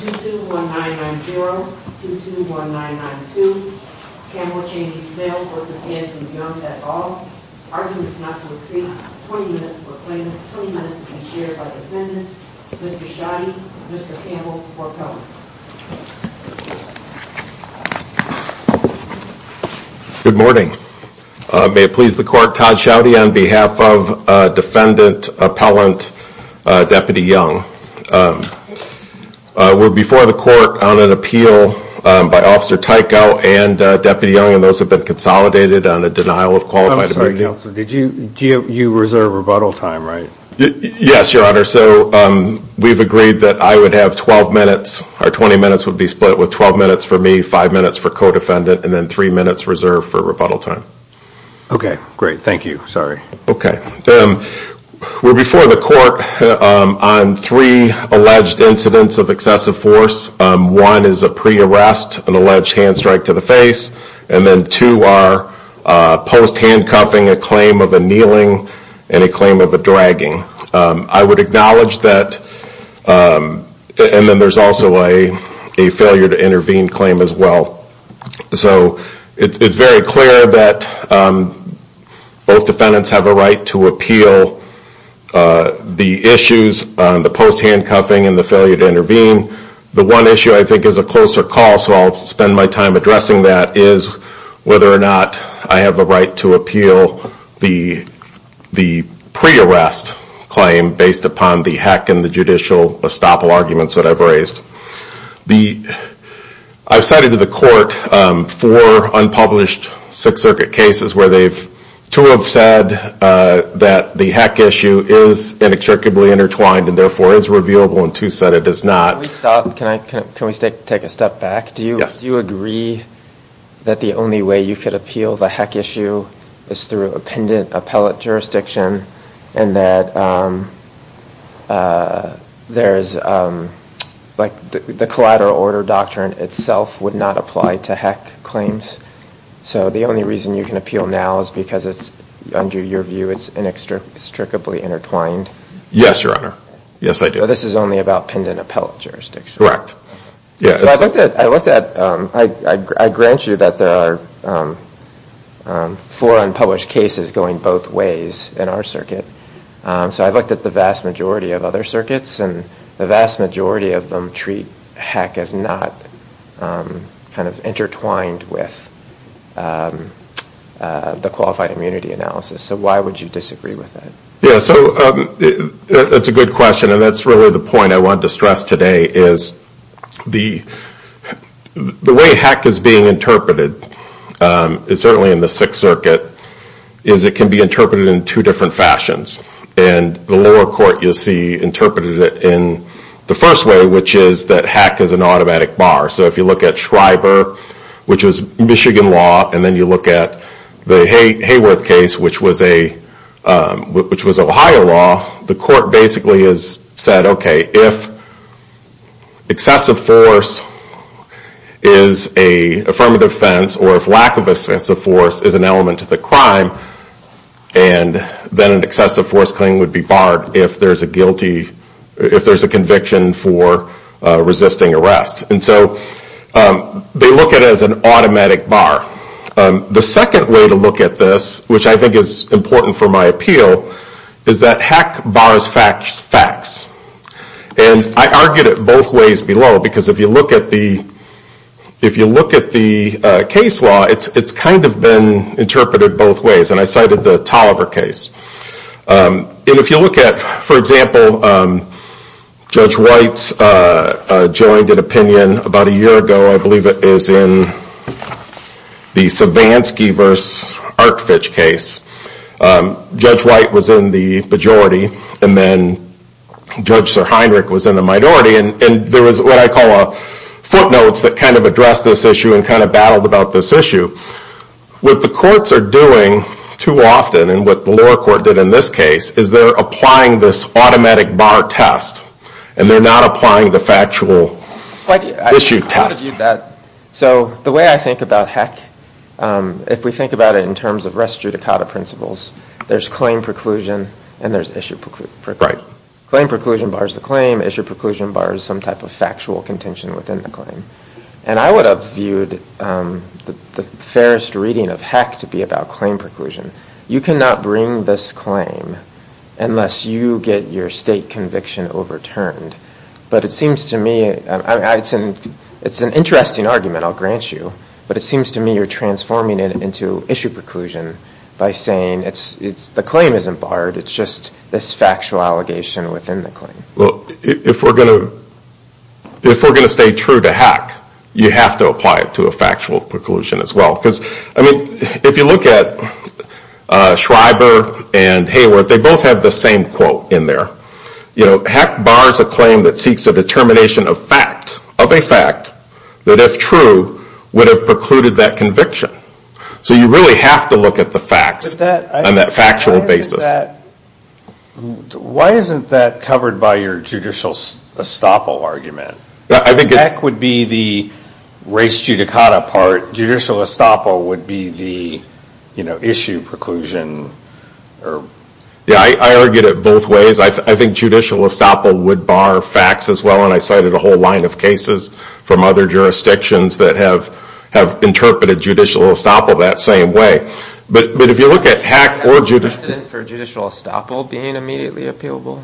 221990, 221992, Kamel ChaneySnell v Andrew Young at all, arguing it is not to exceed 20 minutes for a claim, 20 minutes to be shared by defendants, Mr. Schaudy, Mr. Campbell, or appellants. Good morning. May it please the court, Todd Schaudy on behalf of defendant, appellant, Deputy Young. We're before the court on an appeal by Officer Tyko and Deputy Young, and those have been consolidated on a denial of qualified ability. You reserve rebuttal time, right? Yes, Your Honor, so we've agreed that I would have 12 minutes, or 20 minutes would be split with 12 minutes for me, 5 minutes for co-defendant, and then 3 minutes reserved for rebuttal time. Okay, great. Thank you. Sorry. Okay. We're before the court on three alleged incidents of excessive force. One is a pre-arrest, an alleged hand strike to the face, and then two are post-handcuffing, a claim of a kneeling, and a claim of a dragging. I would acknowledge that, and then there's also a failure to intervene claim as well. So it's very clear that both defendants have a right to appeal the issues on the post-handcuffing and the failure to intervene. The one issue I think is a closer call, so I'll spend my time addressing that, is whether or not I have the right to appeal the pre-arrest claim based upon the heck and the judicial estoppel arguments that I've raised. I've cited to the court four unpublished Sixth Circuit cases where two have said that the heck issue is inextricably intertwined and therefore is reviewable and two said it is not. Can we take a step back? Do you agree that the only way you could appeal the heck issue is through a pendant appellate jurisdiction and that the collateral order doctrine itself would not apply to heck claims? So the only reason you can appeal now is because under your view it's inextricably intertwined? Yes, Your Honor. Yes, I do. So this is only about pendant appellate jurisdiction? I looked at, I grant you that there are four unpublished cases going both ways in our circuit, so I looked at the vast majority of other circuits and the vast majority of them treat heck as not kind of intertwined with the qualified immunity analysis. So why would you disagree with that? Yeah, so that's a good question and that's really the point I wanted to stress today is the way heck is being interpreted, certainly in the Sixth Circuit, is it can be interpreted in two different fashions. And the lower court, you'll see, interpreted it in the first way, which is that heck is an automatic bar. So if you look at Schreiber, which is Michigan law, and then you look at the Hayworth case, which was Ohio law, the court basically has said, okay, if excessive force is an affirmative offense or if lack of excessive force is an element to the crime, then an excessive force claim would be barred if there's a conviction for resisting arrest. And so they look at it as an automatic bar. The second way to look at this, which I think is important for my appeal, is that heck bars facts. And I argued it both ways below because if you look at the case law, it's kind of been interpreted both ways. And I cited the Tolliver case. And if you look at, for example, Judge White's jointed opinion about a year ago, I believe it is in the Savansky v. Arkfitch case. Judge White was in the majority and then Judge Sir Heinrich was in the minority and there was what I call a footnotes that kind of addressed this issue and kind of battled about this issue. What the courts are doing too often and what the lower court did in this case is they're applying this automatic bar test and they're not applying the factual issue test. So the way I think about heck, if we think about it in terms of res judicata principles, there's claim preclusion and there's issue preclusion. Right. Claim preclusion bars the claim. Issue preclusion bars some type of factual contention within the claim. And I would have viewed the fairest reading of heck to be about claim preclusion. You cannot bring this claim unless you get your state conviction overturned. But it seems to me it's an interesting argument, I'll grant you. But it seems to me you're transforming it into issue preclusion by saying the claim isn't barred, it's just this factual allegation within the claim. If we're going to stay true to heck, you have to apply it to a factual preclusion as well. Because if you look at Schreiber and Hayward, they both have the same quote in there. Heck bars a claim that seeks a determination of fact, of a fact, that if true would have precluded that conviction. So you really have to look at the facts on that factual basis. Why isn't that covered by your judicial estoppel argument? Heck would be the race judicata part. Judicial estoppel would be the issue preclusion. I argued it both ways. I think judicial estoppel would bar facts as well. And I cited a whole line of cases from other jurisdictions that have interpreted judicial estoppel that same way. But if you look at heck or judicial estoppel being immediately appealable,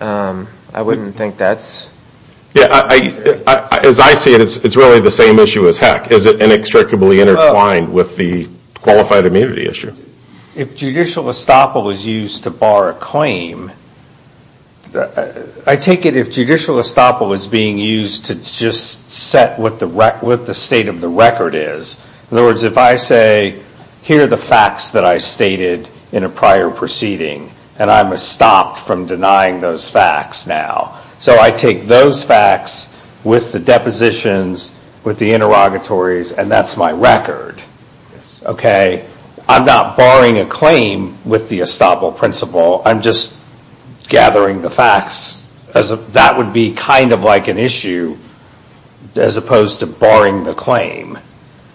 I wouldn't think that's... As I see it, it's really the same issue as heck. It's inextricably intertwined with the qualified immunity issue. If judicial estoppel is used to bar a claim, I take it if judicial estoppel is being used to just set what the state of the record is. In other words, if I say, here are the facts that I stated in a prior proceeding, and I'm estopped from denying those facts now. So I take those facts with the depositions, with the interrogatories, and that's my record. I'm not barring a claim with the estoppel principle. I'm just gathering the facts. That would be kind of like an issue as opposed to barring the claim.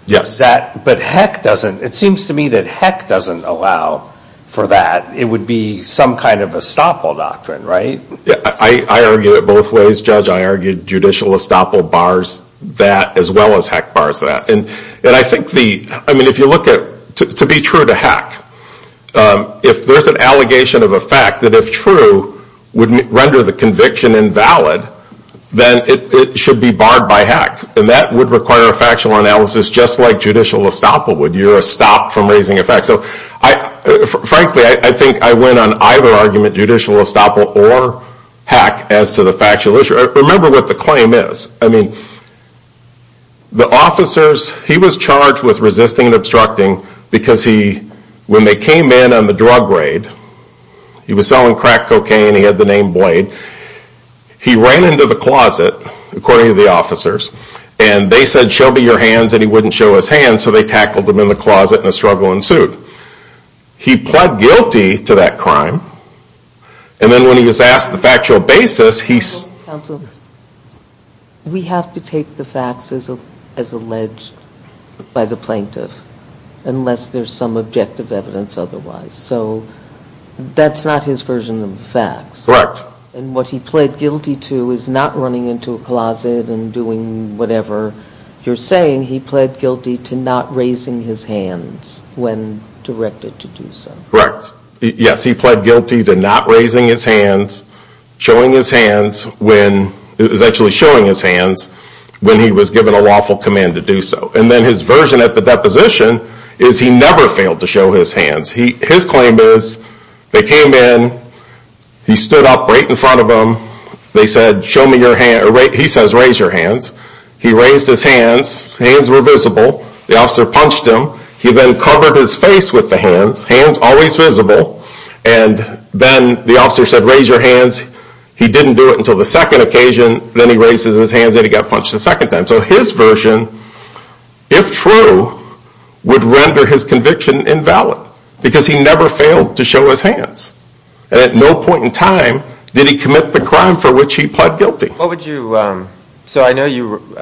But heck doesn't. It seems to me that heck doesn't allow for that. It would be some kind of estoppel doctrine, right? I argued it both ways, Judge. I argued judicial estoppel bars that as well as heck bars that. If you look at, to be true to heck, if there's an allegation of a fact that if true would render the conviction invalid, then it should be barred by heck. And that would require a factual analysis just like judicial estoppel would. You're estopped from raising a fact. Frankly, I think I win on either argument, judicial estoppel or heck, as to the factual issue. Remember what the claim is. I mean, the officers, he was charged with resisting and obstructing because he, when they came in on the drug raid, he was selling crack cocaine, he had the name Blade. He ran into the closet, according to the officers, and they said show me your hands and he wouldn't show his hands, so they tackled him in the closet and a struggle ensued. He pled guilty to that crime. And then when he was asked the factual basis, he... Counsel, we have to take the facts as alleged by the plaintiff unless there's some objective evidence otherwise. So that's not his version of the facts. Correct. And what he pled guilty to is not running into a closet and doing whatever you're saying. He pled guilty to not raising his hands when directed to do so. Correct. Yes, he pled guilty to not raising his hands, showing his hands when... It was actually showing his hands when he was given a lawful command to do so. And then his version at the deposition is he never failed to show his hands. His claim is they came in, he stood up right in front of them, they said show me your hands... He says raise your hands. He raised his hands, his hands were visible, the officer punched him. He then covered his face with the hands, hands always visible, and then the officer said raise your hands. He didn't do it until the second occasion. Then he raised his hands and he got punched a second time. So his version, if true, would render his conviction invalid because he never failed to show his hands. And at no point in time did he commit the crime for which he pled guilty. What would you... So I know you...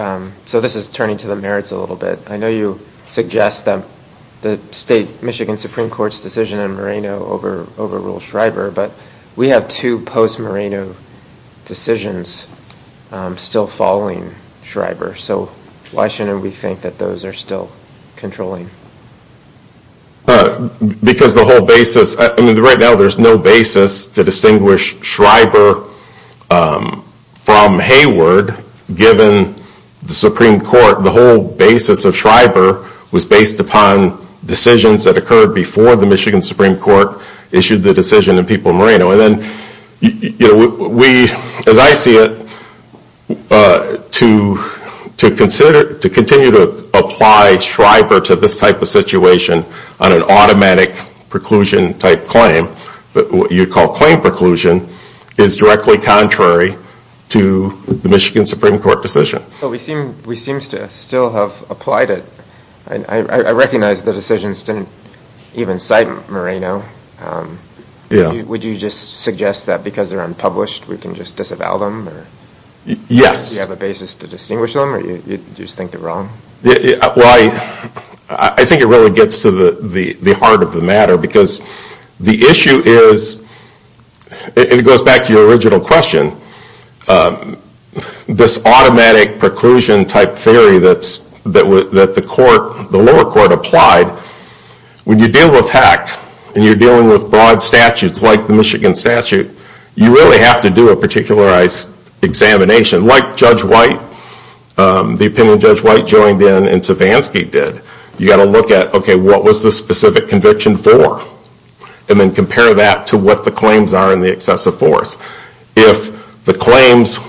So this is turning to the merits a little bit. I know you suggest that the state Michigan Supreme Court's decision in Moreno overruled Schreiber, but we have two post-Moreno decisions still following Schreiber. So why shouldn't we think that those are still controlling? Because the whole basis... Right now there's no basis to distinguish Schreiber from Hayward given the Supreme Court, the whole basis of Schreiber was based upon decisions that occurred before the Michigan Supreme Court issued the decision in people of Moreno. And then we, as I see it, to continue to apply Schreiber to this type of situation on an automatic preclusion-type claim, what you'd call claim preclusion, is directly contrary to the Michigan Supreme Court decision. We seem to still have applied it. I recognize the decisions didn't even cite Moreno. Would you just suggest that because they're unpublished we can just disavow them? Yes. Do you have a basis to distinguish them or do you just think they're wrong? Well, I think it really gets to the heart of the matter because the issue is, and it goes back to your original question, this automatic preclusion-type theory that the lower court applied, when you deal with HECT and you're dealing with broad statutes like the Michigan statute, you really have to do a particularized examination like Judge White, the opinion Judge White joined in and Savansky did. You've got to look at, okay, what was the specific conviction for? And then compare that to what the claims are in the excessive force. If the claims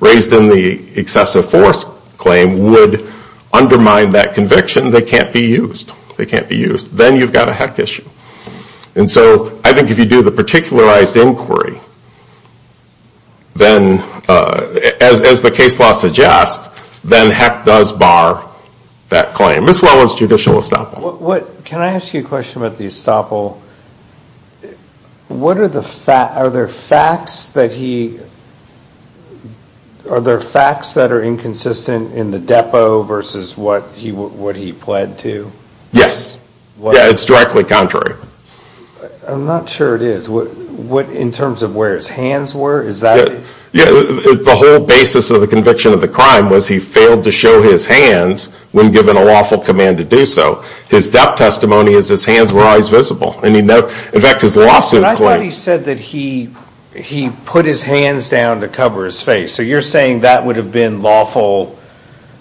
raised in the excessive force claim would undermine that conviction, they can't be used. They can't be used. Then you've got a HECT issue. And so I think if you do the particularized inquiry, as the case law suggests, then HECT does bar that claim as well as judicial estoppel. Can I ask you a question about the estoppel? Are there facts that are inconsistent in the depo versus what he pled to? Yes. Yeah, it's directly contrary. I'm not sure it is. In terms of where his hands were, is that? Yeah, the whole basis of the conviction of the crime was he failed to show his hands when given a lawful command to do so. His death testimony is his hands were always visible. In fact, his lawsuit claim. But I thought he said that he put his hands down to cover his face. So you're saying that would have been lawful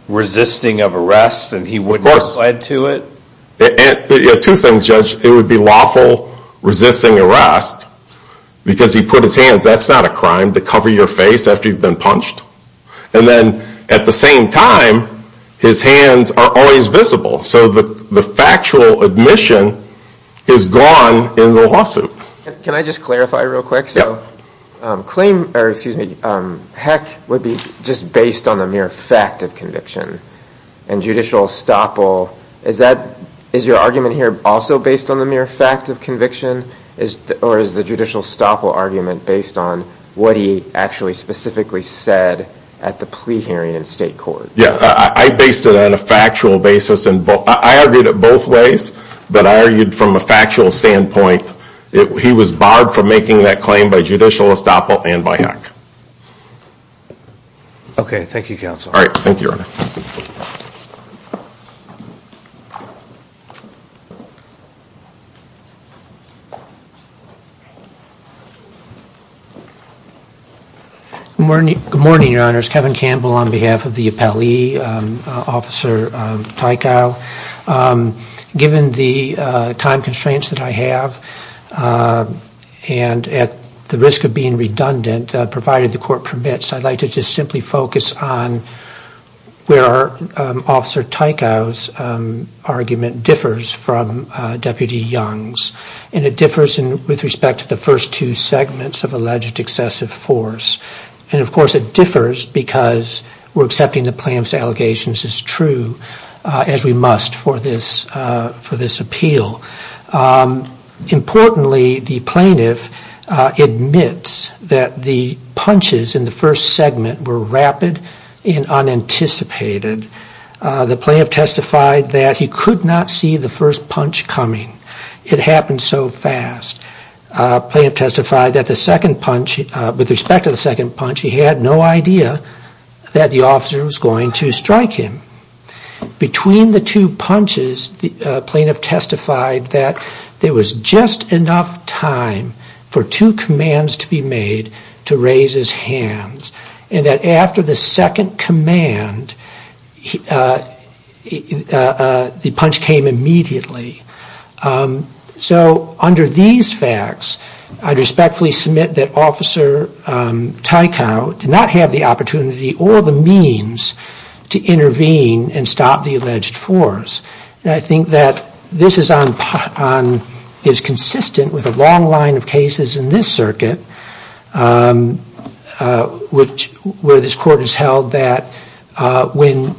resisting of arrest and he wouldn't have pled to it? Two things, Judge. It would be lawful resisting arrest because he put his hands. That's not a crime to cover your face after you've been punched. And then at the same time, his hands are always visible. So the factual admission is gone in the lawsuit. Can I just clarify real quick? So claim or excuse me, heck, would be just based on the mere fact of conviction. And judicial estoppel, is your argument here also based on the mere fact of conviction or is the judicial estoppel argument based on what he actually specifically said at the plea hearing in state court? Yeah, I based it on a factual basis. I argued it both ways, but I argued from a factual standpoint. He was barred from making that claim by judicial estoppel and by heck. Okay, thank you, Counsel. All right, thank you, Your Honor. Good morning, Your Honors. Kevin Campbell on behalf of the appellee, Officer Tykow. Given the time constraints that I have and at the risk of being redundant, provided the court permits, I'd like to just simply focus on where Officer Tykow's argument differs from Deputy Young's. And it differs with respect to the first two segments of alleged excessive force. And, of course, it differs because we're accepting the plaintiff's allegations as true as we must for this appeal. Importantly, the plaintiff admits that the punches in the first segment were rapid and unanticipated. The plaintiff testified that he could not see the first punch coming. It happened so fast. The plaintiff testified that the second punch, with respect to the second punch, he had no idea that the officer was going to strike him. Between the two punches, the plaintiff testified that there was just enough time for two commands to be made to raise his hands. And that after the second command, the punch came immediately. So under these facts, I'd respectfully submit that Officer Tykow did not have the opportunity or the means to intervene and stop the alleged force. And I think that this is consistent with a long line of cases in this circuit, where this court has held that when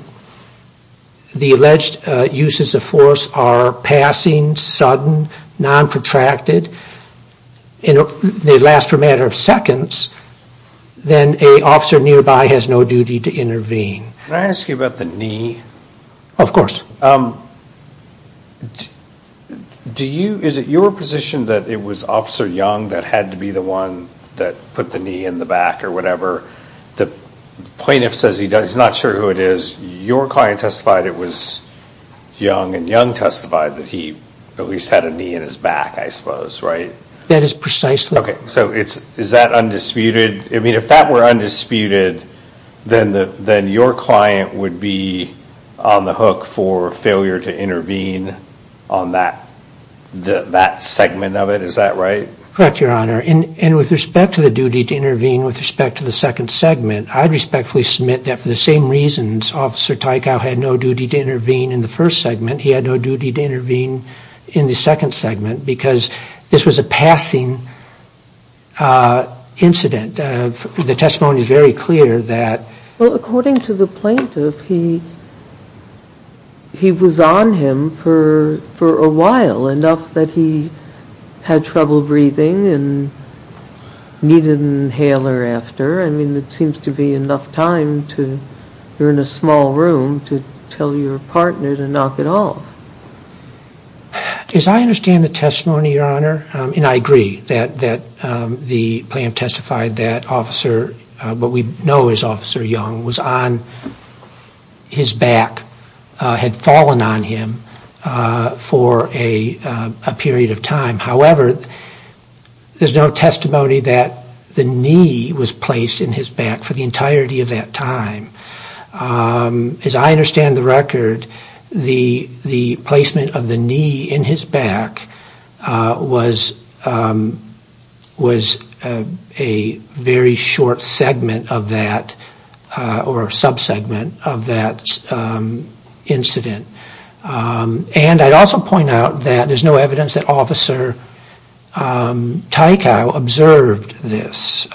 the alleged uses of force are passing, sudden, non-protracted, they last for a matter of seconds, then an officer nearby has no duty to intervene. Can I ask you about the knee? Of course. Is it your position that it was Officer Young that had to be the one that put the knee in the back or whatever? The plaintiff says he's not sure who it is. Your client testified it was Young, and Young testified that he at least had a knee in his back, I suppose, right? That is precisely right. Okay, so is that undisputed? I mean, if that were undisputed, then your client would be on the hook for failure to intervene on that segment of it. Is that right? Correct, Your Honor. And with respect to the duty to intervene with respect to the second segment, I'd respectfully submit that for the same reasons Officer Tykow had no duty to intervene in the first segment, he had no duty to intervene in the second segment, because this was a passing incident. The testimony is very clear that... Well, according to the plaintiff, he was on him for a while, enough that he had trouble breathing and needed an inhaler after. I mean, it seems to be enough time to, you're in a small room, to tell your partner to knock it off. As I understand the testimony, Your Honor, and I agree that the plaintiff testified that Officer, what we know as Officer Young, was on his back, had fallen on him for a period of time. However, there's no testimony that the knee was placed in his back for the entirety of that time. As I understand the record, the placement of the knee in his back was a very short segment of that, or sub-segment of that incident. And I'd also point out that there's no evidence that Officer Tykow observed this.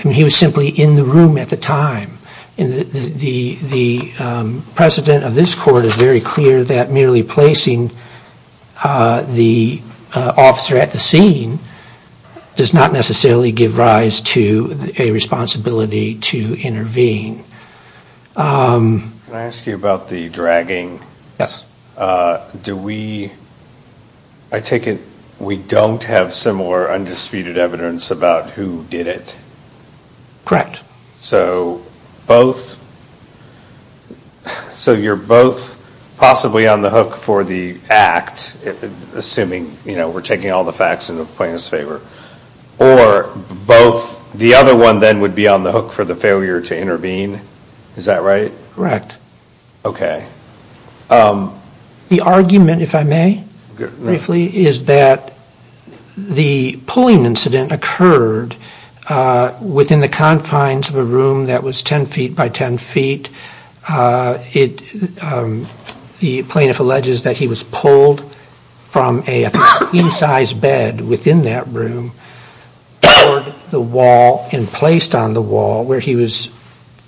He was simply in the room at the time. The precedent of this court is very clear that merely placing the officer at the scene does not necessarily give rise to a responsibility to intervene. Can I ask you about the dragging? Yes. Do we... I take it we don't have similar undisputed evidence about who did it? Correct. So both... So you're both possibly on the hook for the act, assuming we're taking all the facts in the plaintiff's favor, or both the other one then would be on the hook for the failure to intervene. Is that right? Correct. Okay. The argument, if I may, briefly, is that the pulling incident occurred within the confines of a room that was 10 feet by 10 feet. The plaintiff alleges that he was pulled from a queen-size bed within that room toward the wall and placed on the wall where he was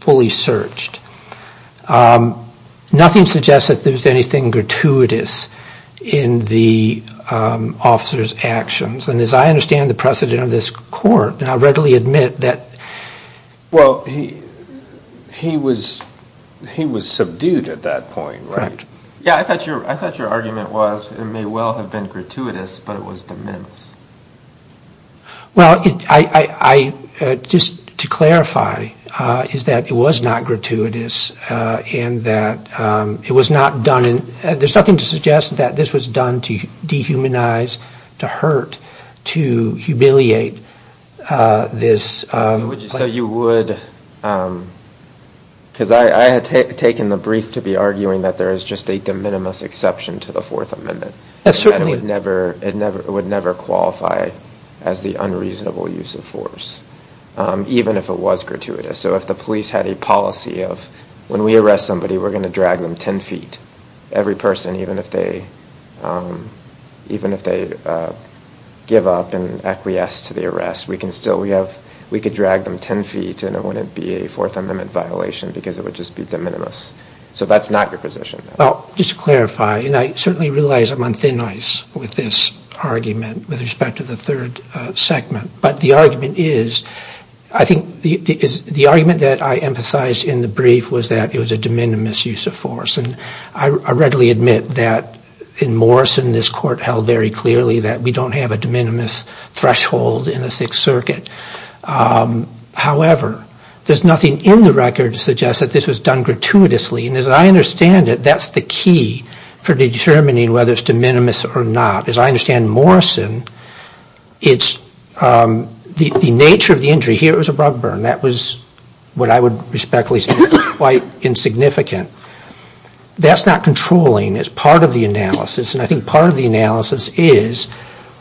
fully searched. Nothing suggests that there was anything gratuitous in the officer's actions. And as I understand the precedent of this court, and I readily admit that... Well, he was subdued at that point, right? Correct. Yeah, I thought your argument was it may well have been gratuitous, but it was de minimis. Well, just to clarify, is that it was not gratuitous and that it was not done in... There's nothing to suggest that this was done to dehumanize, to hurt, to humiliate this... So you would... Because I had taken the brief to be arguing that there is just a de minimis exception to the Fourth Amendment. Yes, certainly. It would never qualify as the unreasonable use of force, even if it was gratuitous. So if the police had a policy of, when we arrest somebody, we're going to drag them 10 feet, every person, even if they give up and acquiesce to the arrest, we could drag them 10 feet and it wouldn't be a Fourth Amendment violation because it would just be de minimis. So that's not your position. Well, just to clarify, and I certainly realize I'm on thin ice with this argument with respect to the third segment, but the argument is, I think the argument that I emphasized in the brief was that it was a de minimis use of force, and I readily admit that in Morrison this court held very clearly that we don't have a de minimis threshold in the Sixth Circuit. However, there's nothing in the record to suggest that this was done gratuitously, and as I understand it, that's the key for determining whether it's de minimis or not. As I understand Morrison, the nature of the injury here was a rug burn. That was, what I would respectfully say, quite insignificant. That's not controlling. It's part of the analysis, and I think part of the analysis is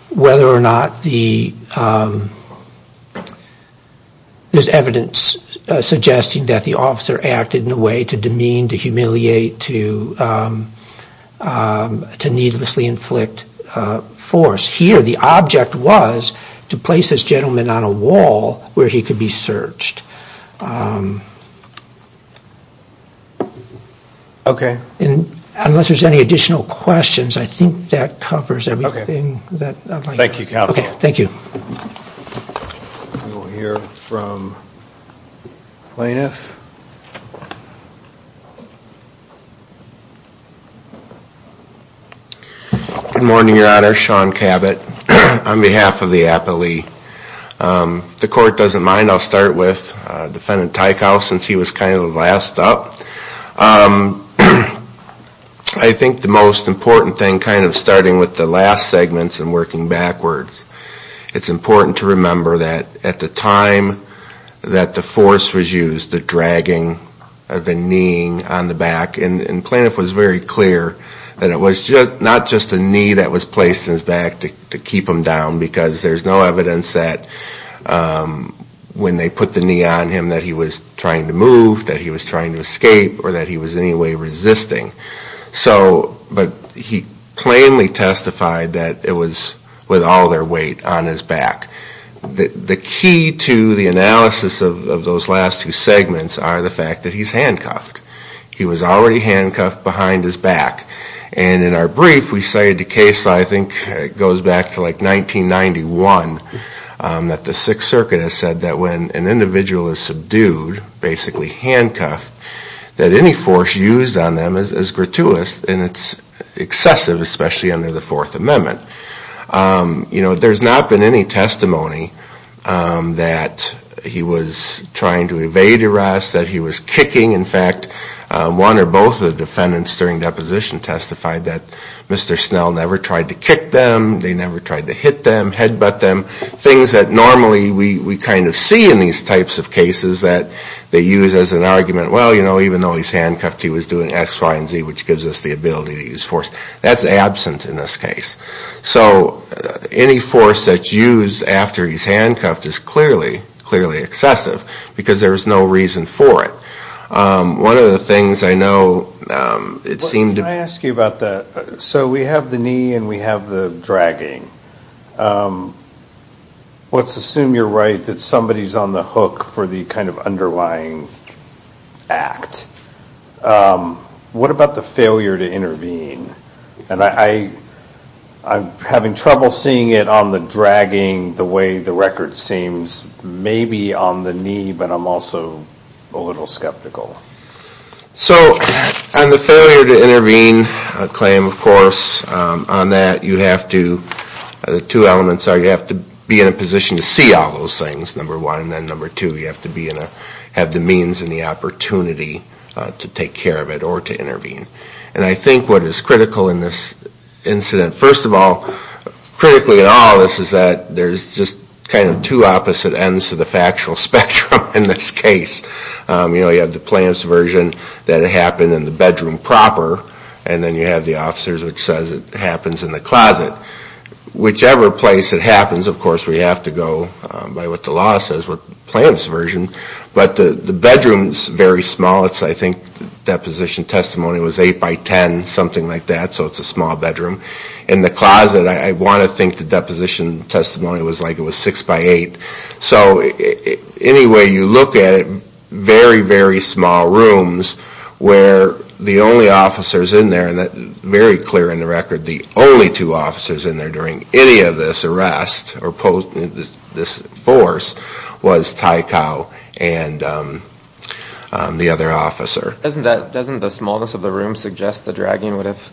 whether or not there's evidence suggesting that the officer acted in a way to demean, to humiliate, to needlessly inflict force. Here, the object was to place this gentleman on a wall where he could be searched. Okay. Unless there's any additional questions, I think that covers everything. Thank you, counsel. Okay, thank you. We'll hear from plaintiff. Good morning, Your Honor. Sean Cabot on behalf of the appellee. If the court doesn't mind, I'll start with Defendant Teichau since he was kind of the last up. I think the most important thing, kind of starting with the last segments and working backwards, it's important to remember that at the time that the force was used, the dragging, the kneeing on the back, and plaintiff was very clear that it was not just a knee that was placed in his back to keep him down because there's no evidence that when they put the knee on him that he was trying to move, that he was trying to escape, or that he was in any way resisting. But he plainly testified that it was with all their weight on his back. The key to the analysis of those last two segments are the fact that he's handcuffed. He was already handcuffed behind his back. And in our brief, we say the case, I think, goes back to like 1991, that the Sixth Circuit has said that when an individual is subdued, basically handcuffed, that any force used on them is gratuitous and it's excessive, especially under the Fourth Amendment. You know, there's not been any testimony that he was trying to evade arrest, that he was kicking. In fact, one or both of the defendants during deposition testified that Mr. Snell never tried to kick them, they never tried to hit them, headbutt them, things that normally we kind of see in these types of cases that they use as an argument, well, you know, even though he's handcuffed, he was doing X, Y, and Z, which gives us the ability to use force. That's absent in this case. So any force that's used after he's handcuffed is clearly, clearly excessive, because there's no reason for it. One of the things I know, it seemed to be... Can I ask you about that? So we have the knee and we have the dragging. Let's assume you're right that somebody's on the hook for the kind of underlying act. What about the failure to intervene? And I'm having trouble seeing it on the dragging, the way the record seems, maybe on the knee, but I'm also a little skeptical. So on the failure to intervene claim, of course, on that you have to... The two elements are you have to be in a position to see all those things, number one, and then number two, you have to have the means and the opportunity to take care of it or to intervene. And I think what is critical in this incident, first of all, critically at all, is that there's just kind of two opposite ends to the factual spectrum in this case. You know, you have the plaintiff's version that it happened in the bedroom proper, and then you have the officer's which says it happens in the closet. Whichever place it happens, of course, we have to go by what the law says, we're the plaintiff's version, but the bedroom's very small. I think the deposition testimony was 8 by 10, something like that, so it's a small bedroom. In the closet, I want to think the deposition testimony was like it was 6 by 8. So anyway, you look at it, very, very small rooms where the only officers in there, and very clear in the record, the only two officers in there during any of this arrest, or this force, was Tycow and the other officer. Doesn't the smallness of the room suggest the dragging would have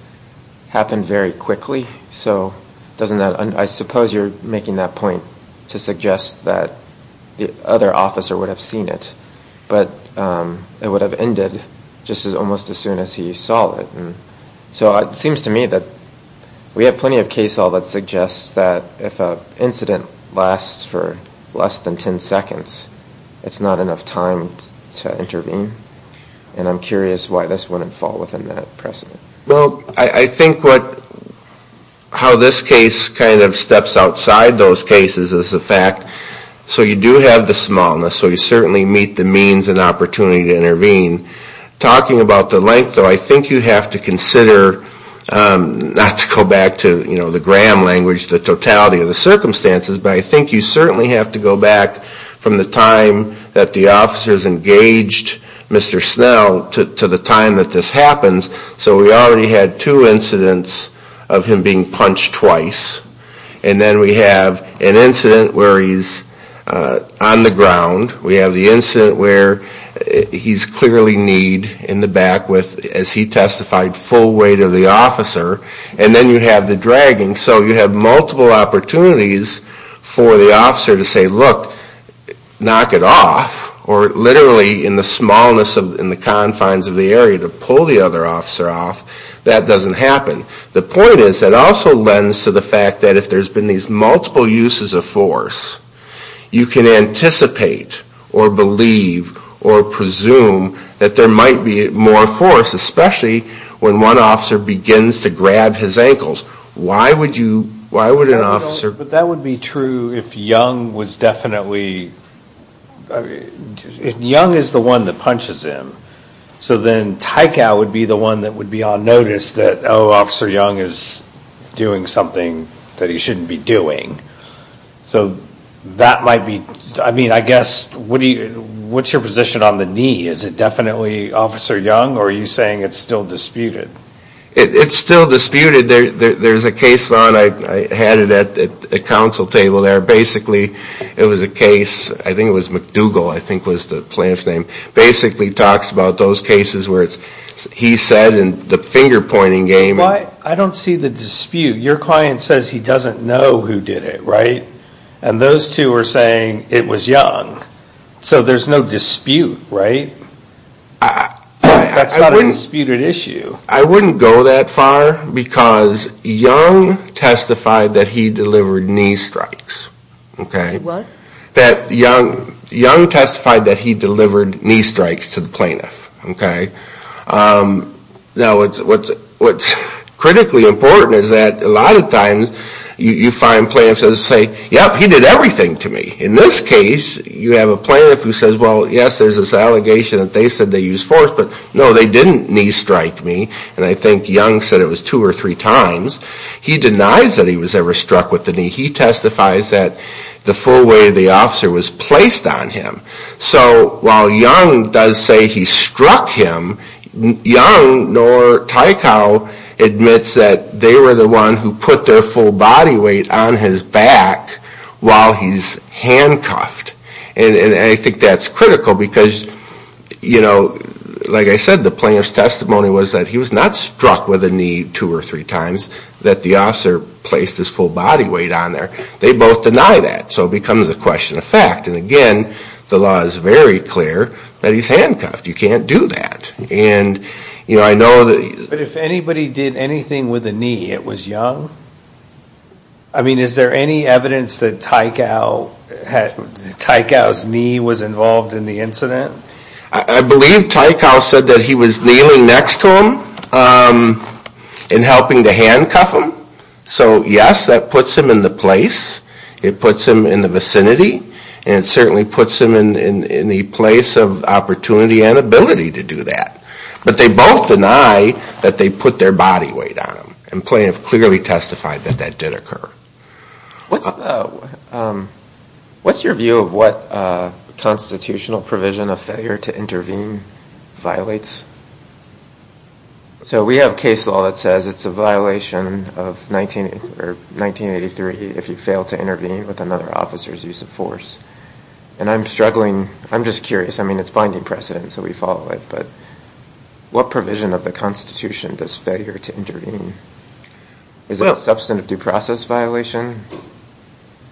happened very quickly? I suppose you're making that point to suggest that the other officer would have seen it, but it would have ended just almost as soon as he saw it. So it seems to me that we have plenty of case law that suggests that if an incident lasts for less than 10 seconds, it's not enough time to intervene, and I'm curious why this wouldn't fall within that precedent. Well, I think how this case kind of steps outside those cases is the fact, so you do have the smallness, so you certainly meet the means and opportunity to intervene. Talking about the length, though, I think you have to consider, not to go back to the gram language, the totality of the circumstances, but I think you certainly have to go back from the time that the officers engaged Mr. Snell to the time that this happens, so we already had two incidents of him being punched twice, and then we have an incident where he's on the ground, we have the incident where he's clearly kneed in the back with, as he testified, full weight of the officer, and then you have the dragging, so you have multiple opportunities for the officer to say, look, knock it off, or literally in the smallness in the confines of the area to pull the other officer off, that doesn't happen. The point is that also lends to the fact that if there's been these multiple uses of force, you can anticipate or believe or presume that there might be more force, especially when one officer begins to grab his ankles. Why would an officer... But that would be true if Young was definitely... Young is the one that punches him, so then Tycow would be the one that would be on notice that, oh, Officer Young is doing something that he shouldn't be doing, so that might be... I mean, I guess, what's your position on the knee? Is it definitely Officer Young, or are you saying it's still disputed? It's still disputed. There's a case, Lon, I had it at the council table there. Basically, it was a case, I think it was McDougall, I think was the plaintiff's name, basically talks about those cases where he said in the finger-pointing game... Well, I don't see the dispute. Your client says he doesn't know who did it, right? And those two are saying it was Young, so there's no dispute, right? That's not a disputed issue. I wouldn't go that far, because Young testified that he delivered knee strikes. What? Young testified that he delivered knee strikes to the plaintiff. Now, what's critically important is that a lot of times, you find plaintiffs that say, yep, he did everything to me. In this case, you have a plaintiff who says, well, yes, there's this allegation that they said they used force, but no, they didn't knee strike me, and I think Young said it was two or three times. He denies that he was ever struck with the knee. He testifies that the full weight of the officer was placed on him. So while Young does say he struck him, Young, nor Tycow, admits that they were the ones who put their full body weight on his back while he's handcuffed. And I think that's critical, because, you know, like I said, the plaintiff's testimony was that he was not struck with the knee two or three times, that the officer placed his full body weight on there. They both deny that. So it becomes a question of fact, and again, the law is very clear that he's handcuffed. You can't do that. But if anybody did anything with a knee, it was Young? I mean, is there any evidence that Tycow's knee was involved in the incident? I believe Tycow said that he was kneeling next to him and helping to handcuff him. So yes, that puts him in the place. It puts him in the vicinity, and it certainly puts him in the place of opportunity and ability to do that. But they both deny that they put their body weight on him. The plaintiff clearly testified that that did occur. What's your view of what constitutional provision of failure to intervene violates? So we have case law that says it's a violation of 1983 if you fail to intervene with another officer's use of force. And I'm struggling. I'm just curious. I mean, it's binding precedent, so we follow it. But what provision of the Constitution does failure to intervene? Is it a substantive due process violation?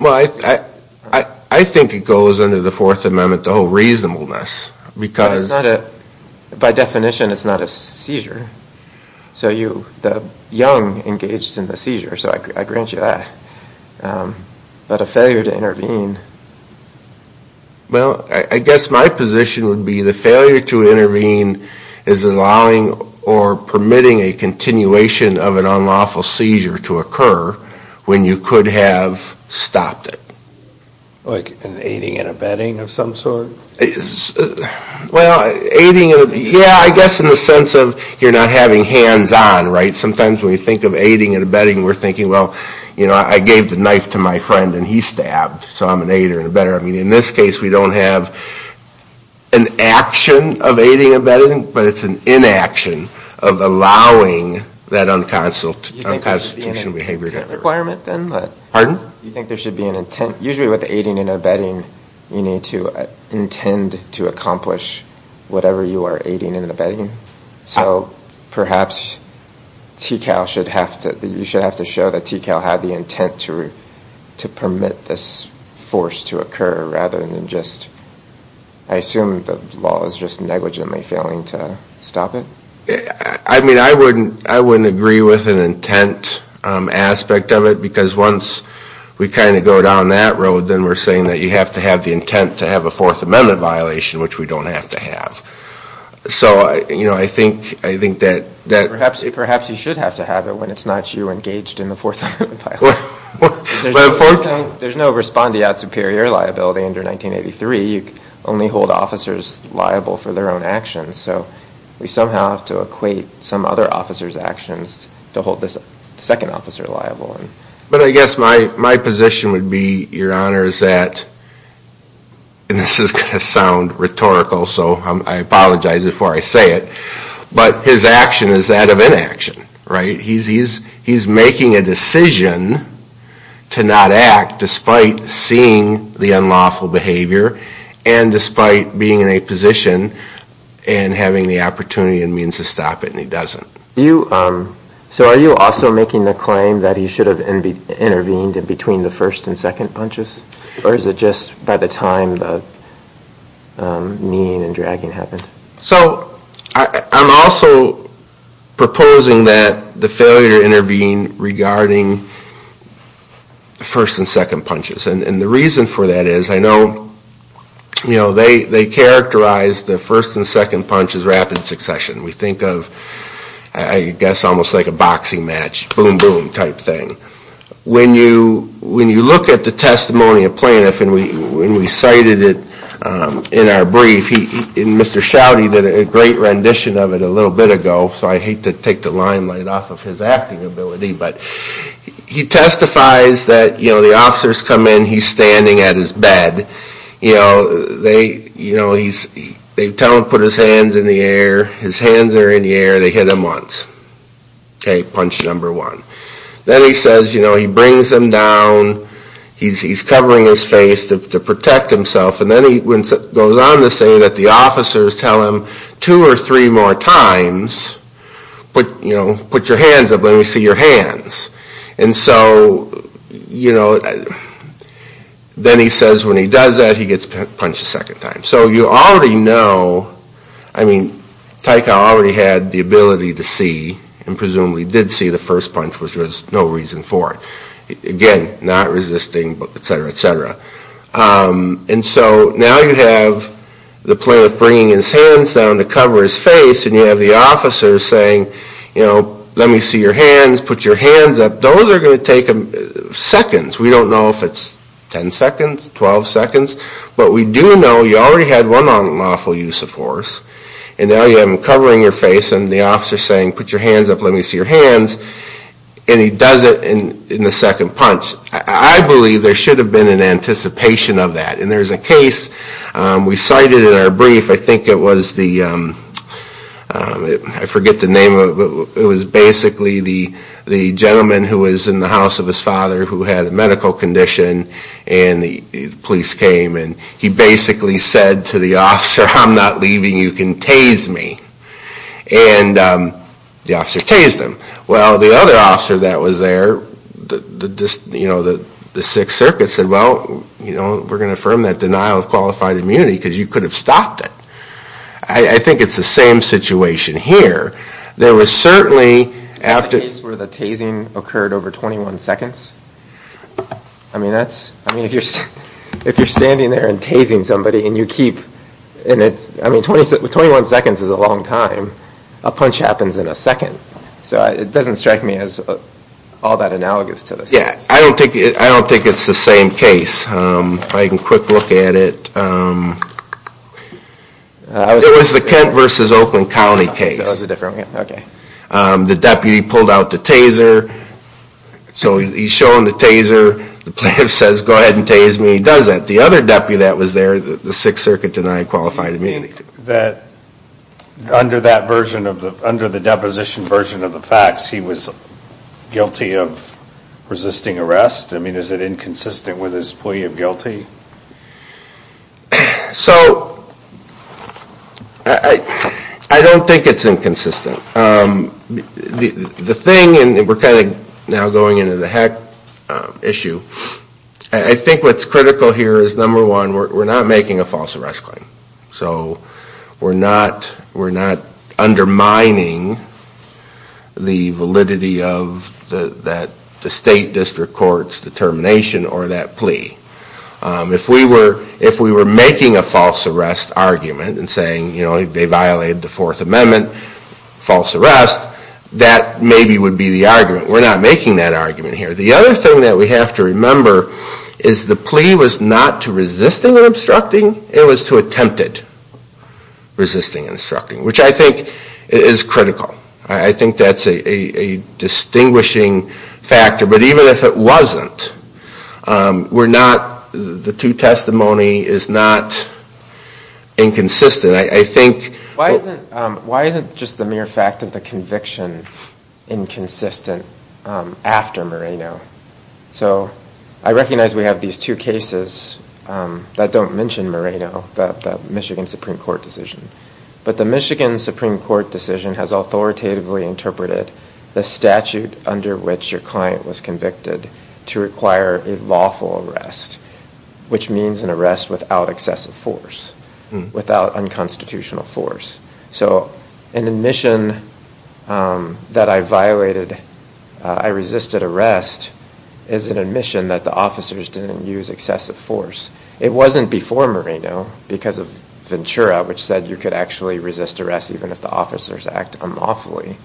I think it goes under the Fourth Amendment, the whole reasonableness. By definition, it's not a seizure. So Young engaged in the seizure, so I grant you that. But a failure to intervene? Well, I guess my position would be the failure to intervene is allowing or permitting a continuation of an unlawful seizure to occur when you could have stopped it. Like an aiding and abetting of some sort? Well, yeah, I guess in the sense of you're not having hands on, right? Sometimes when you think of aiding and abetting, we're thinking, well, I gave the knife to my friend and he stabbed, so I'm an aider and abetter. I mean, in this case, we don't have an action of aiding and abetting, but it's an inaction of allowing that unconstitutional behavior to occur. Do you think there should be an intent? Usually with aiding and abetting, you need to intend to accomplish whatever you are aiding and abetting. So perhaps TCAL should have to, you should have to show that TCAL had the intent to permit this force to occur rather than just, I assume the law is just negligently failing to stop it? I mean, I wouldn't agree with an intent aspect of it, because once we kind of go down that road, then we're saying that you have to have the intent to have a Fourth Amendment violation, which we don't have to have. So I think that... Perhaps you should have to have it when it's not you engaged in the Fourth Amendment violation. There's no respondeat superior liability under 1983. You only hold officers liable for their own actions. So we somehow have to equate some other officer's actions to hold this second officer liable. But I guess my position would be, Your Honor, is that, and this is going to sound rhetorical, so I apologize before I say it, but his action is that of inaction, right? He's making a decision to not act despite seeing the unlawful behavior and despite being in a position and having the opportunity and means to stop it, and he doesn't. So are you also making the claim that he should have intervened in between the first and second punches? Or is it just by the time the kneeing and dragging happened? So I'm also proposing that the failure to intervene regarding first and second punches. And the reason for that is, I know they characterize the first and second punch as rapid succession. We think of, I guess, almost like a boxing match, boom, boom, type thing. When you look at the testimony of plaintiff, and we cited it in our brief, and Mr. Schouty did a great rendition of it a little bit ago, so I hate to take the limelight off of his acting ability, but he testifies that the officers come in, he's standing at his bed, they tell him to put his hands in the air, his hands are in the air, they hit him once. Okay, punch number one. Then he says, he brings them down, he's covering his face to protect himself, and then he goes on to say that the officers tell him two or three more times, put your hands up, let me see your hands. Then he says when he does that, he gets punched a second time. So you already know, I mean, Taika already had the ability to see, and presumably did see the first punch, which was no reason for it. Again, not resisting, et cetera, et cetera. And so now you have the plaintiff bringing his hands down to cover his face, and you have the officers saying, you know, let me see your hands, put your hands up. Those are going to take seconds. We don't know if it's 10 seconds, 12 seconds, but we do know you already had one unlawful use of force, and now you have them covering your face, and the officer's saying put your hands up, let me see your hands, and he does it in the second punch. I believe there should have been an anticipation of that, and there's a case we cited in our brief, I think it was the, I forget the name of it, but it was basically the gentleman who was in the house of his father who had a medical condition, and the police came, and he basically said to the officer, I'm not leaving, you can tase me. And the officer tased him. Well, the other officer that was there, you know, the Sixth Circuit said, well, you know, we're going to affirm that denial of qualified immunity because you could have stopped it. I think it's the same situation here. There was certainly after the tasing occurred over 21 seconds. I mean, if you're standing there and tasing somebody, and you keep, I mean, 21 seconds is a long time. A punch happens in a second. So it doesn't strike me as all that analogous to this. Yeah, I don't think it's the same case. If I can quick look at it. It was the Kent versus Oakland County case. The deputy pulled out the taser. So he's shown the taser. The plaintiff says, go ahead and tase me. He does that. The other deputy that was there, the Sixth Circuit denied qualified immunity. Under the deposition version of the facts, he was guilty of resisting arrest? I mean, is it inconsistent with his plea of guilty? So, I don't think it's inconsistent. The thing, and we're kind of now going into the heck issue, I think what's critical here is, number one, we're not making a false arrest claim. So we're not undermining the validity of the state district court's determination or that plea. If we were making a false arrest argument and saying, you know, they violated the Fourth Amendment, false arrest, that maybe would be the argument. We're not making that argument here. The other thing that we have to remember is the plea was not to resisting and obstructing. It was to attempted resisting and obstructing. Which I think is critical. I think that's a distinguishing factor. But even if it wasn't, we're not, the two testimony is not inconsistent. I think... Why isn't just the mere fact of the conviction inconsistent after Moreno? So, I recognize we have these two cases that don't mention Moreno, the Michigan Supreme Court decision. But the Michigan Supreme Court decision has authoritatively interpreted the statute under which your client was convicted to require a lawful arrest, which means an arrest without excessive force, without unconstitutional force. So an admission that I violated, I resisted arrest, is an admission that the officers didn't use excessive force. It wasn't before Moreno, because of Ventura, which said you could actually resist arrest even if the officers act unlawfully.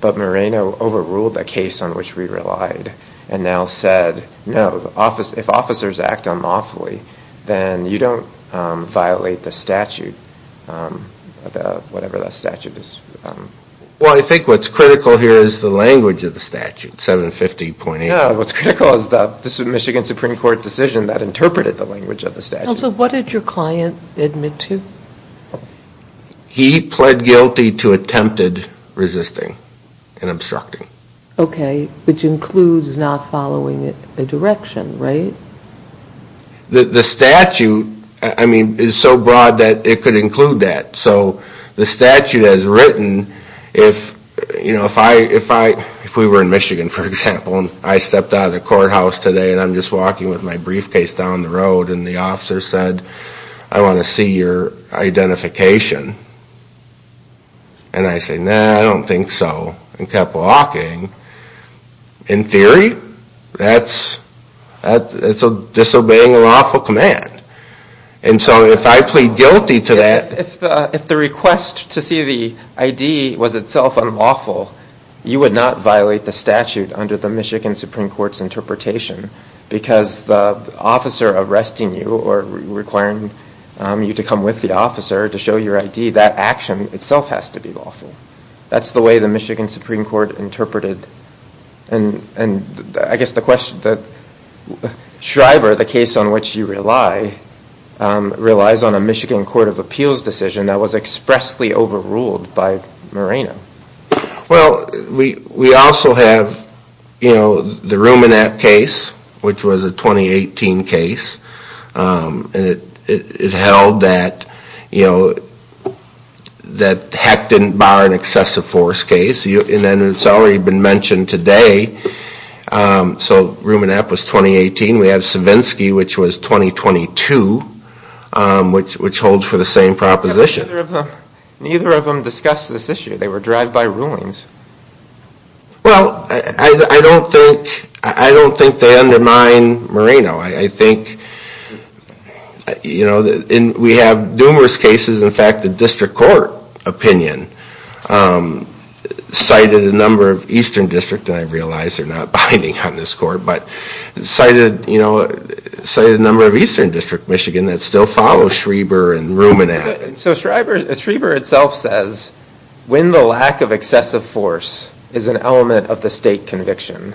But Moreno overruled the case on which we relied and now said, no, if officers act unlawfully, then you don't violate the statute. Whatever that statute is. Well, I think what's critical here is the language of the statute, 750.8. What's critical is the Michigan Supreme Court decision that interpreted the language of the statute. What did your client admit to? He pled guilty to attempted resisting and obstructing. Okay, which includes not following the direction, right? The statute is so broad that it could include that. So the statute has written, if we were in Michigan, for example, and I stepped out of the courthouse today and I'm just walking with my briefcase down the road and the officer said, I want to see your identification. And I say, nah, I don't think so. And kept walking. In theory, that's disobeying a lawful command. And so if I plead guilty to that. If the request to see the ID was itself unlawful, you would not violate the statute under the Michigan Supreme Court's interpretation. Because the officer arresting you or requiring you to come with the officer to show your ID, that action itself has to be lawful. That's the way the Michigan Supreme Court interpreted and I guess the question that Shriver, the case on which you rely, relies on a Michigan Court of Appeals decision that was expressly overruled by Moreno. Well, we also have the Rumenap case, which was a 2018 case. And it held that, you know, that Heck didn't bar an excessive force case and it's already been mentioned today. So Rumenap was 2018. We have Savinsky, which was 2022, which holds for the same proposition. Neither of them discussed this issue. They were drive-by rulings. Well, I don't think they undermine Moreno. I think, you know, we have numerous cases. In fact, the district court opinion cited a number of Eastern District, and I realize they're not binding on this court, but cited, you know, cited a number of Eastern District Michigan that still follow Shriver and Rumenap. So Shriver itself says when the lack of excessive force is an element of the state conviction,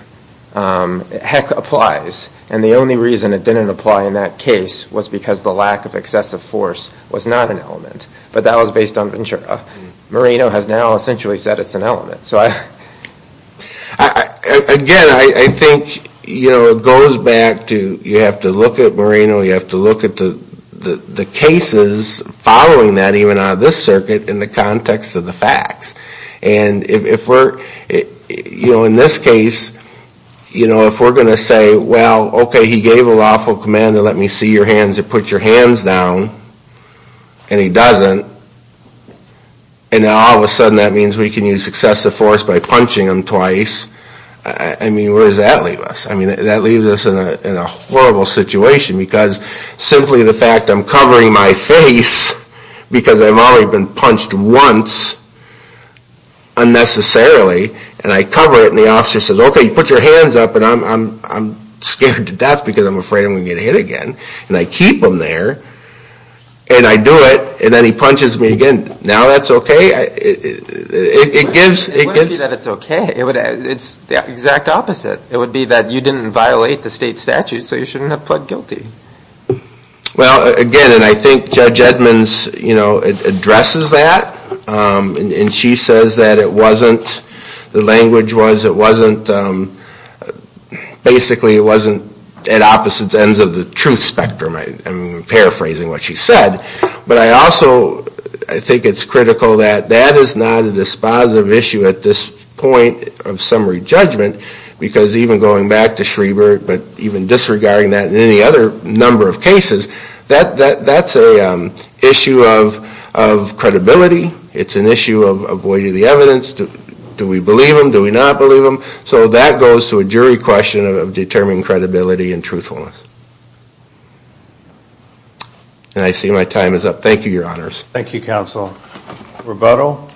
Heck applies. And the only reason it didn't apply in that case was because the lack of excessive force was not an element. But that was based on Ventura. Moreno has now essentially said it's an element. Again, I think, you know, it goes back to you have to look at Moreno, you have to look at the cases following that even on this circuit in the context of the facts. And if we're, you know, in this case, you know, if we're going to say, well, okay, he gave a lawful command to let me see your hands or put your hands down, and he doesn't, and now all of a sudden that means we can use excessive force by punching him twice, I mean, where does that leave us? I mean, that leaves us in a horrible situation because simply the fact I'm covering my face because I've only been punched once unnecessarily, and I cover it and the officer says, okay, you put your hands up, and I'm scared to death because I'm afraid I'm going to get hit again. And I keep them there, and I do it, and then he punches me again. Now that's okay? It gives It wouldn't be that it's okay. It's the exact opposite. It would be that you didn't violate the state statute, so you shouldn't have pled guilty. Well, again, and I think Judge Edmonds, you know, addresses that, and she says that it wasn't, the language was it wasn't, basically it wasn't at opposite ends of the truth spectrum. I'm paraphrasing what she said. But I also think it's critical that that is not a dispositive issue at this point of summary judgment because even going back to Schreber, but even disregarding that in any other number of cases, that's an issue of credibility. It's an issue of avoiding the evidence. Do we believe them? Do we not believe them? So that goes to a jury question of determining credibility and truthfulness. And I see my time is up. Thank you, Your Honors. Thank you, Counsel. Roberto?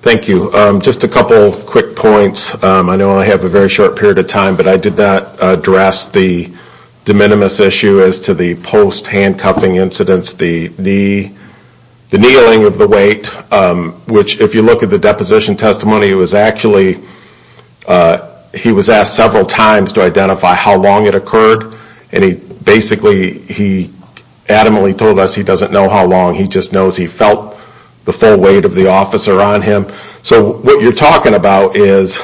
Thank you. Just a couple quick points. I know I have a very short period of time, but I did not address the de minimis issue as to the post-handcuffing incidents, the kneeling of the weight, which if you look at the deposition testimony, it was actually, he was asked several times to identify how long it occurred, and basically he adamantly told us he doesn't know how long. He just knows he felt the full weight of the officer on him. So what you're talking about is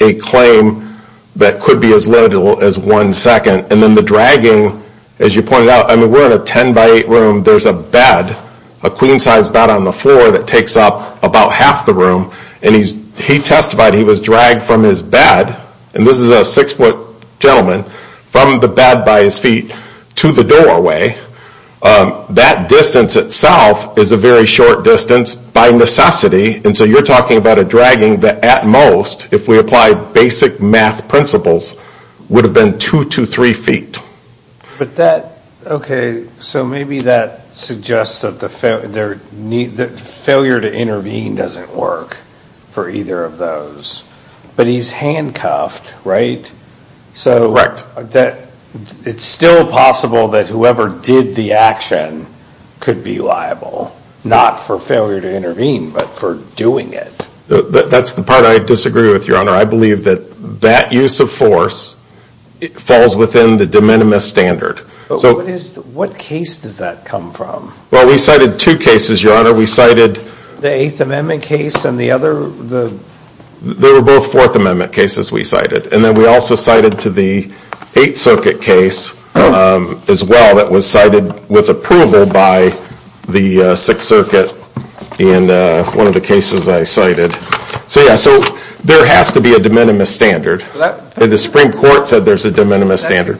a claim that could be as little as one second, and then the dragging, as you pointed out, we're in a 10 by 8 room, there's a bed, a queen size bed on the floor that takes up about half the room, and he testified he was dragged from his bed, and this is a 6 foot gentleman, from the bed by his feet to the doorway. That distance itself is a very short distance by necessity, and so you're talking about a dragging that at most, if we apply basic math principles, would have been 2 to 3 feet. Okay, so maybe that suggests that failure to intervene doesn't work for either of those. But he's handcuffed, right? It's still possible that whoever did the action could be liable, not for failure to intervene, but for doing it. That's the part I disagree with, Your Honor. I believe that that use of force falls within the de minimis standard. What case does that come from? Well, we cited two cases, Your Honor. We cited the 8th Amendment case and the other... They were both 4th Amendment cases we cited. And then we also cited to the 8th Circuit case as well that was cited with approval by the 6th Circuit in one of the cases I cited. So yeah, there has to be a de minimis standard. The Supreme Court said there's a de minimis standard.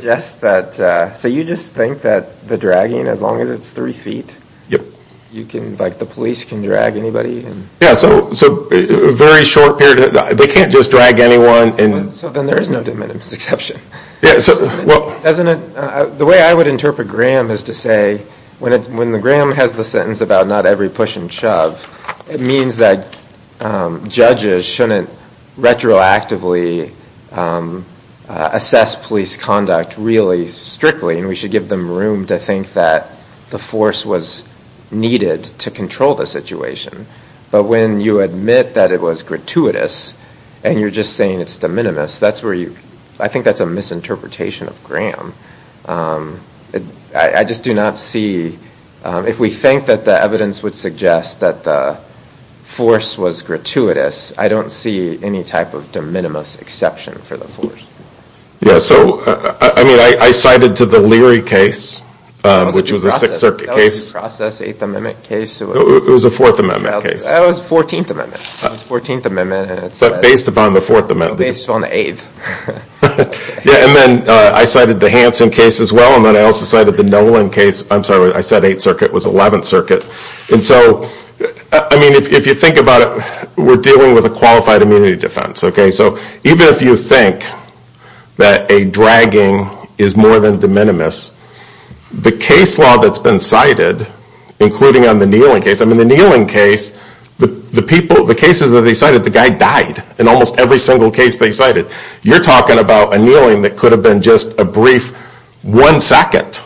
So you just think that the dragging, as long as it's 3 feet, the police can drag anybody? Yeah, so a very short period. They can't just drag anyone. So then there is no de minimis exception. The way I would interpret Graham is to say, when Graham has the sentence about not every push and shove, it means that judges shouldn't retroactively assess police conduct really strictly, and we should give them room to think that the force was needed to control the situation. But when you admit that it was gratuitous, and you're just saying it's de minimis, I think that's a misinterpretation of Graham. I just do not see... If we think that the evidence would suggest that the force was gratuitous, I don't see any type of de minimis exception for the force. Yeah, so I cited to the Leary case, which was a 6th Circuit case. That was a process 8th Amendment case. It was a 14th Amendment case. Based on the 8th. Yeah, and then I cited the Hanson case as well, and then I also cited the Nolan case. I'm sorry, I said 8th Circuit. It was 11th Circuit. If you think about it, we're dealing with a qualified immunity defense. So even if you think that a dragging is more than de minimis, the case law that's been cited, including on the kneeling case, I mean the kneeling case, the cases that they cited, the guy died. In almost every single case they cited. You're talking about a kneeling that could have been just a brief one second.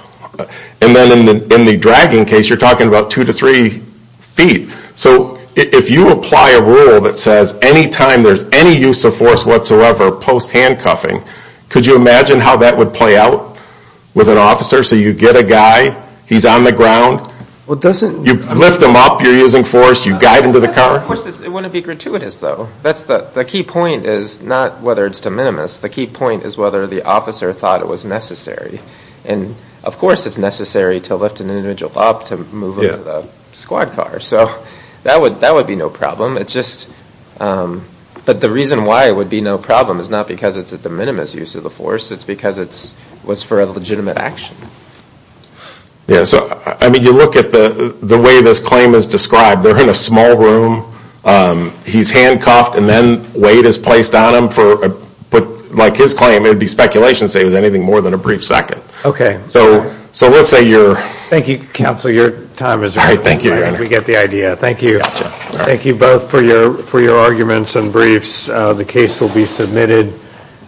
And then in the dragging case, you're talking about two to three feet. So if you apply a rule that says any time there's any use of force whatsoever post-handcuffing, could you imagine how that would play out with an officer? So you get a guy, he's on the ground, you lift him up, you're using force, you guide him to the car. Of course it wouldn't be gratuitous though. The key point is not whether it's de minimis. The key point is whether the officer thought it was necessary. And of course it's necessary to lift an individual up to move him to the squad car. So that would be no problem. But the reason why it would be no problem is not because it's a de minimis use of the force. It's because it was for a legitimate action. You look at the way this claim is described. They're in a small room, he's handcuffed, and then weight is placed on him. But like his claim, it would be speculation to say it was anything more than a brief second. Thank you counsel, your time is up. Thank you both for your arguments and briefs. The case will be submitted.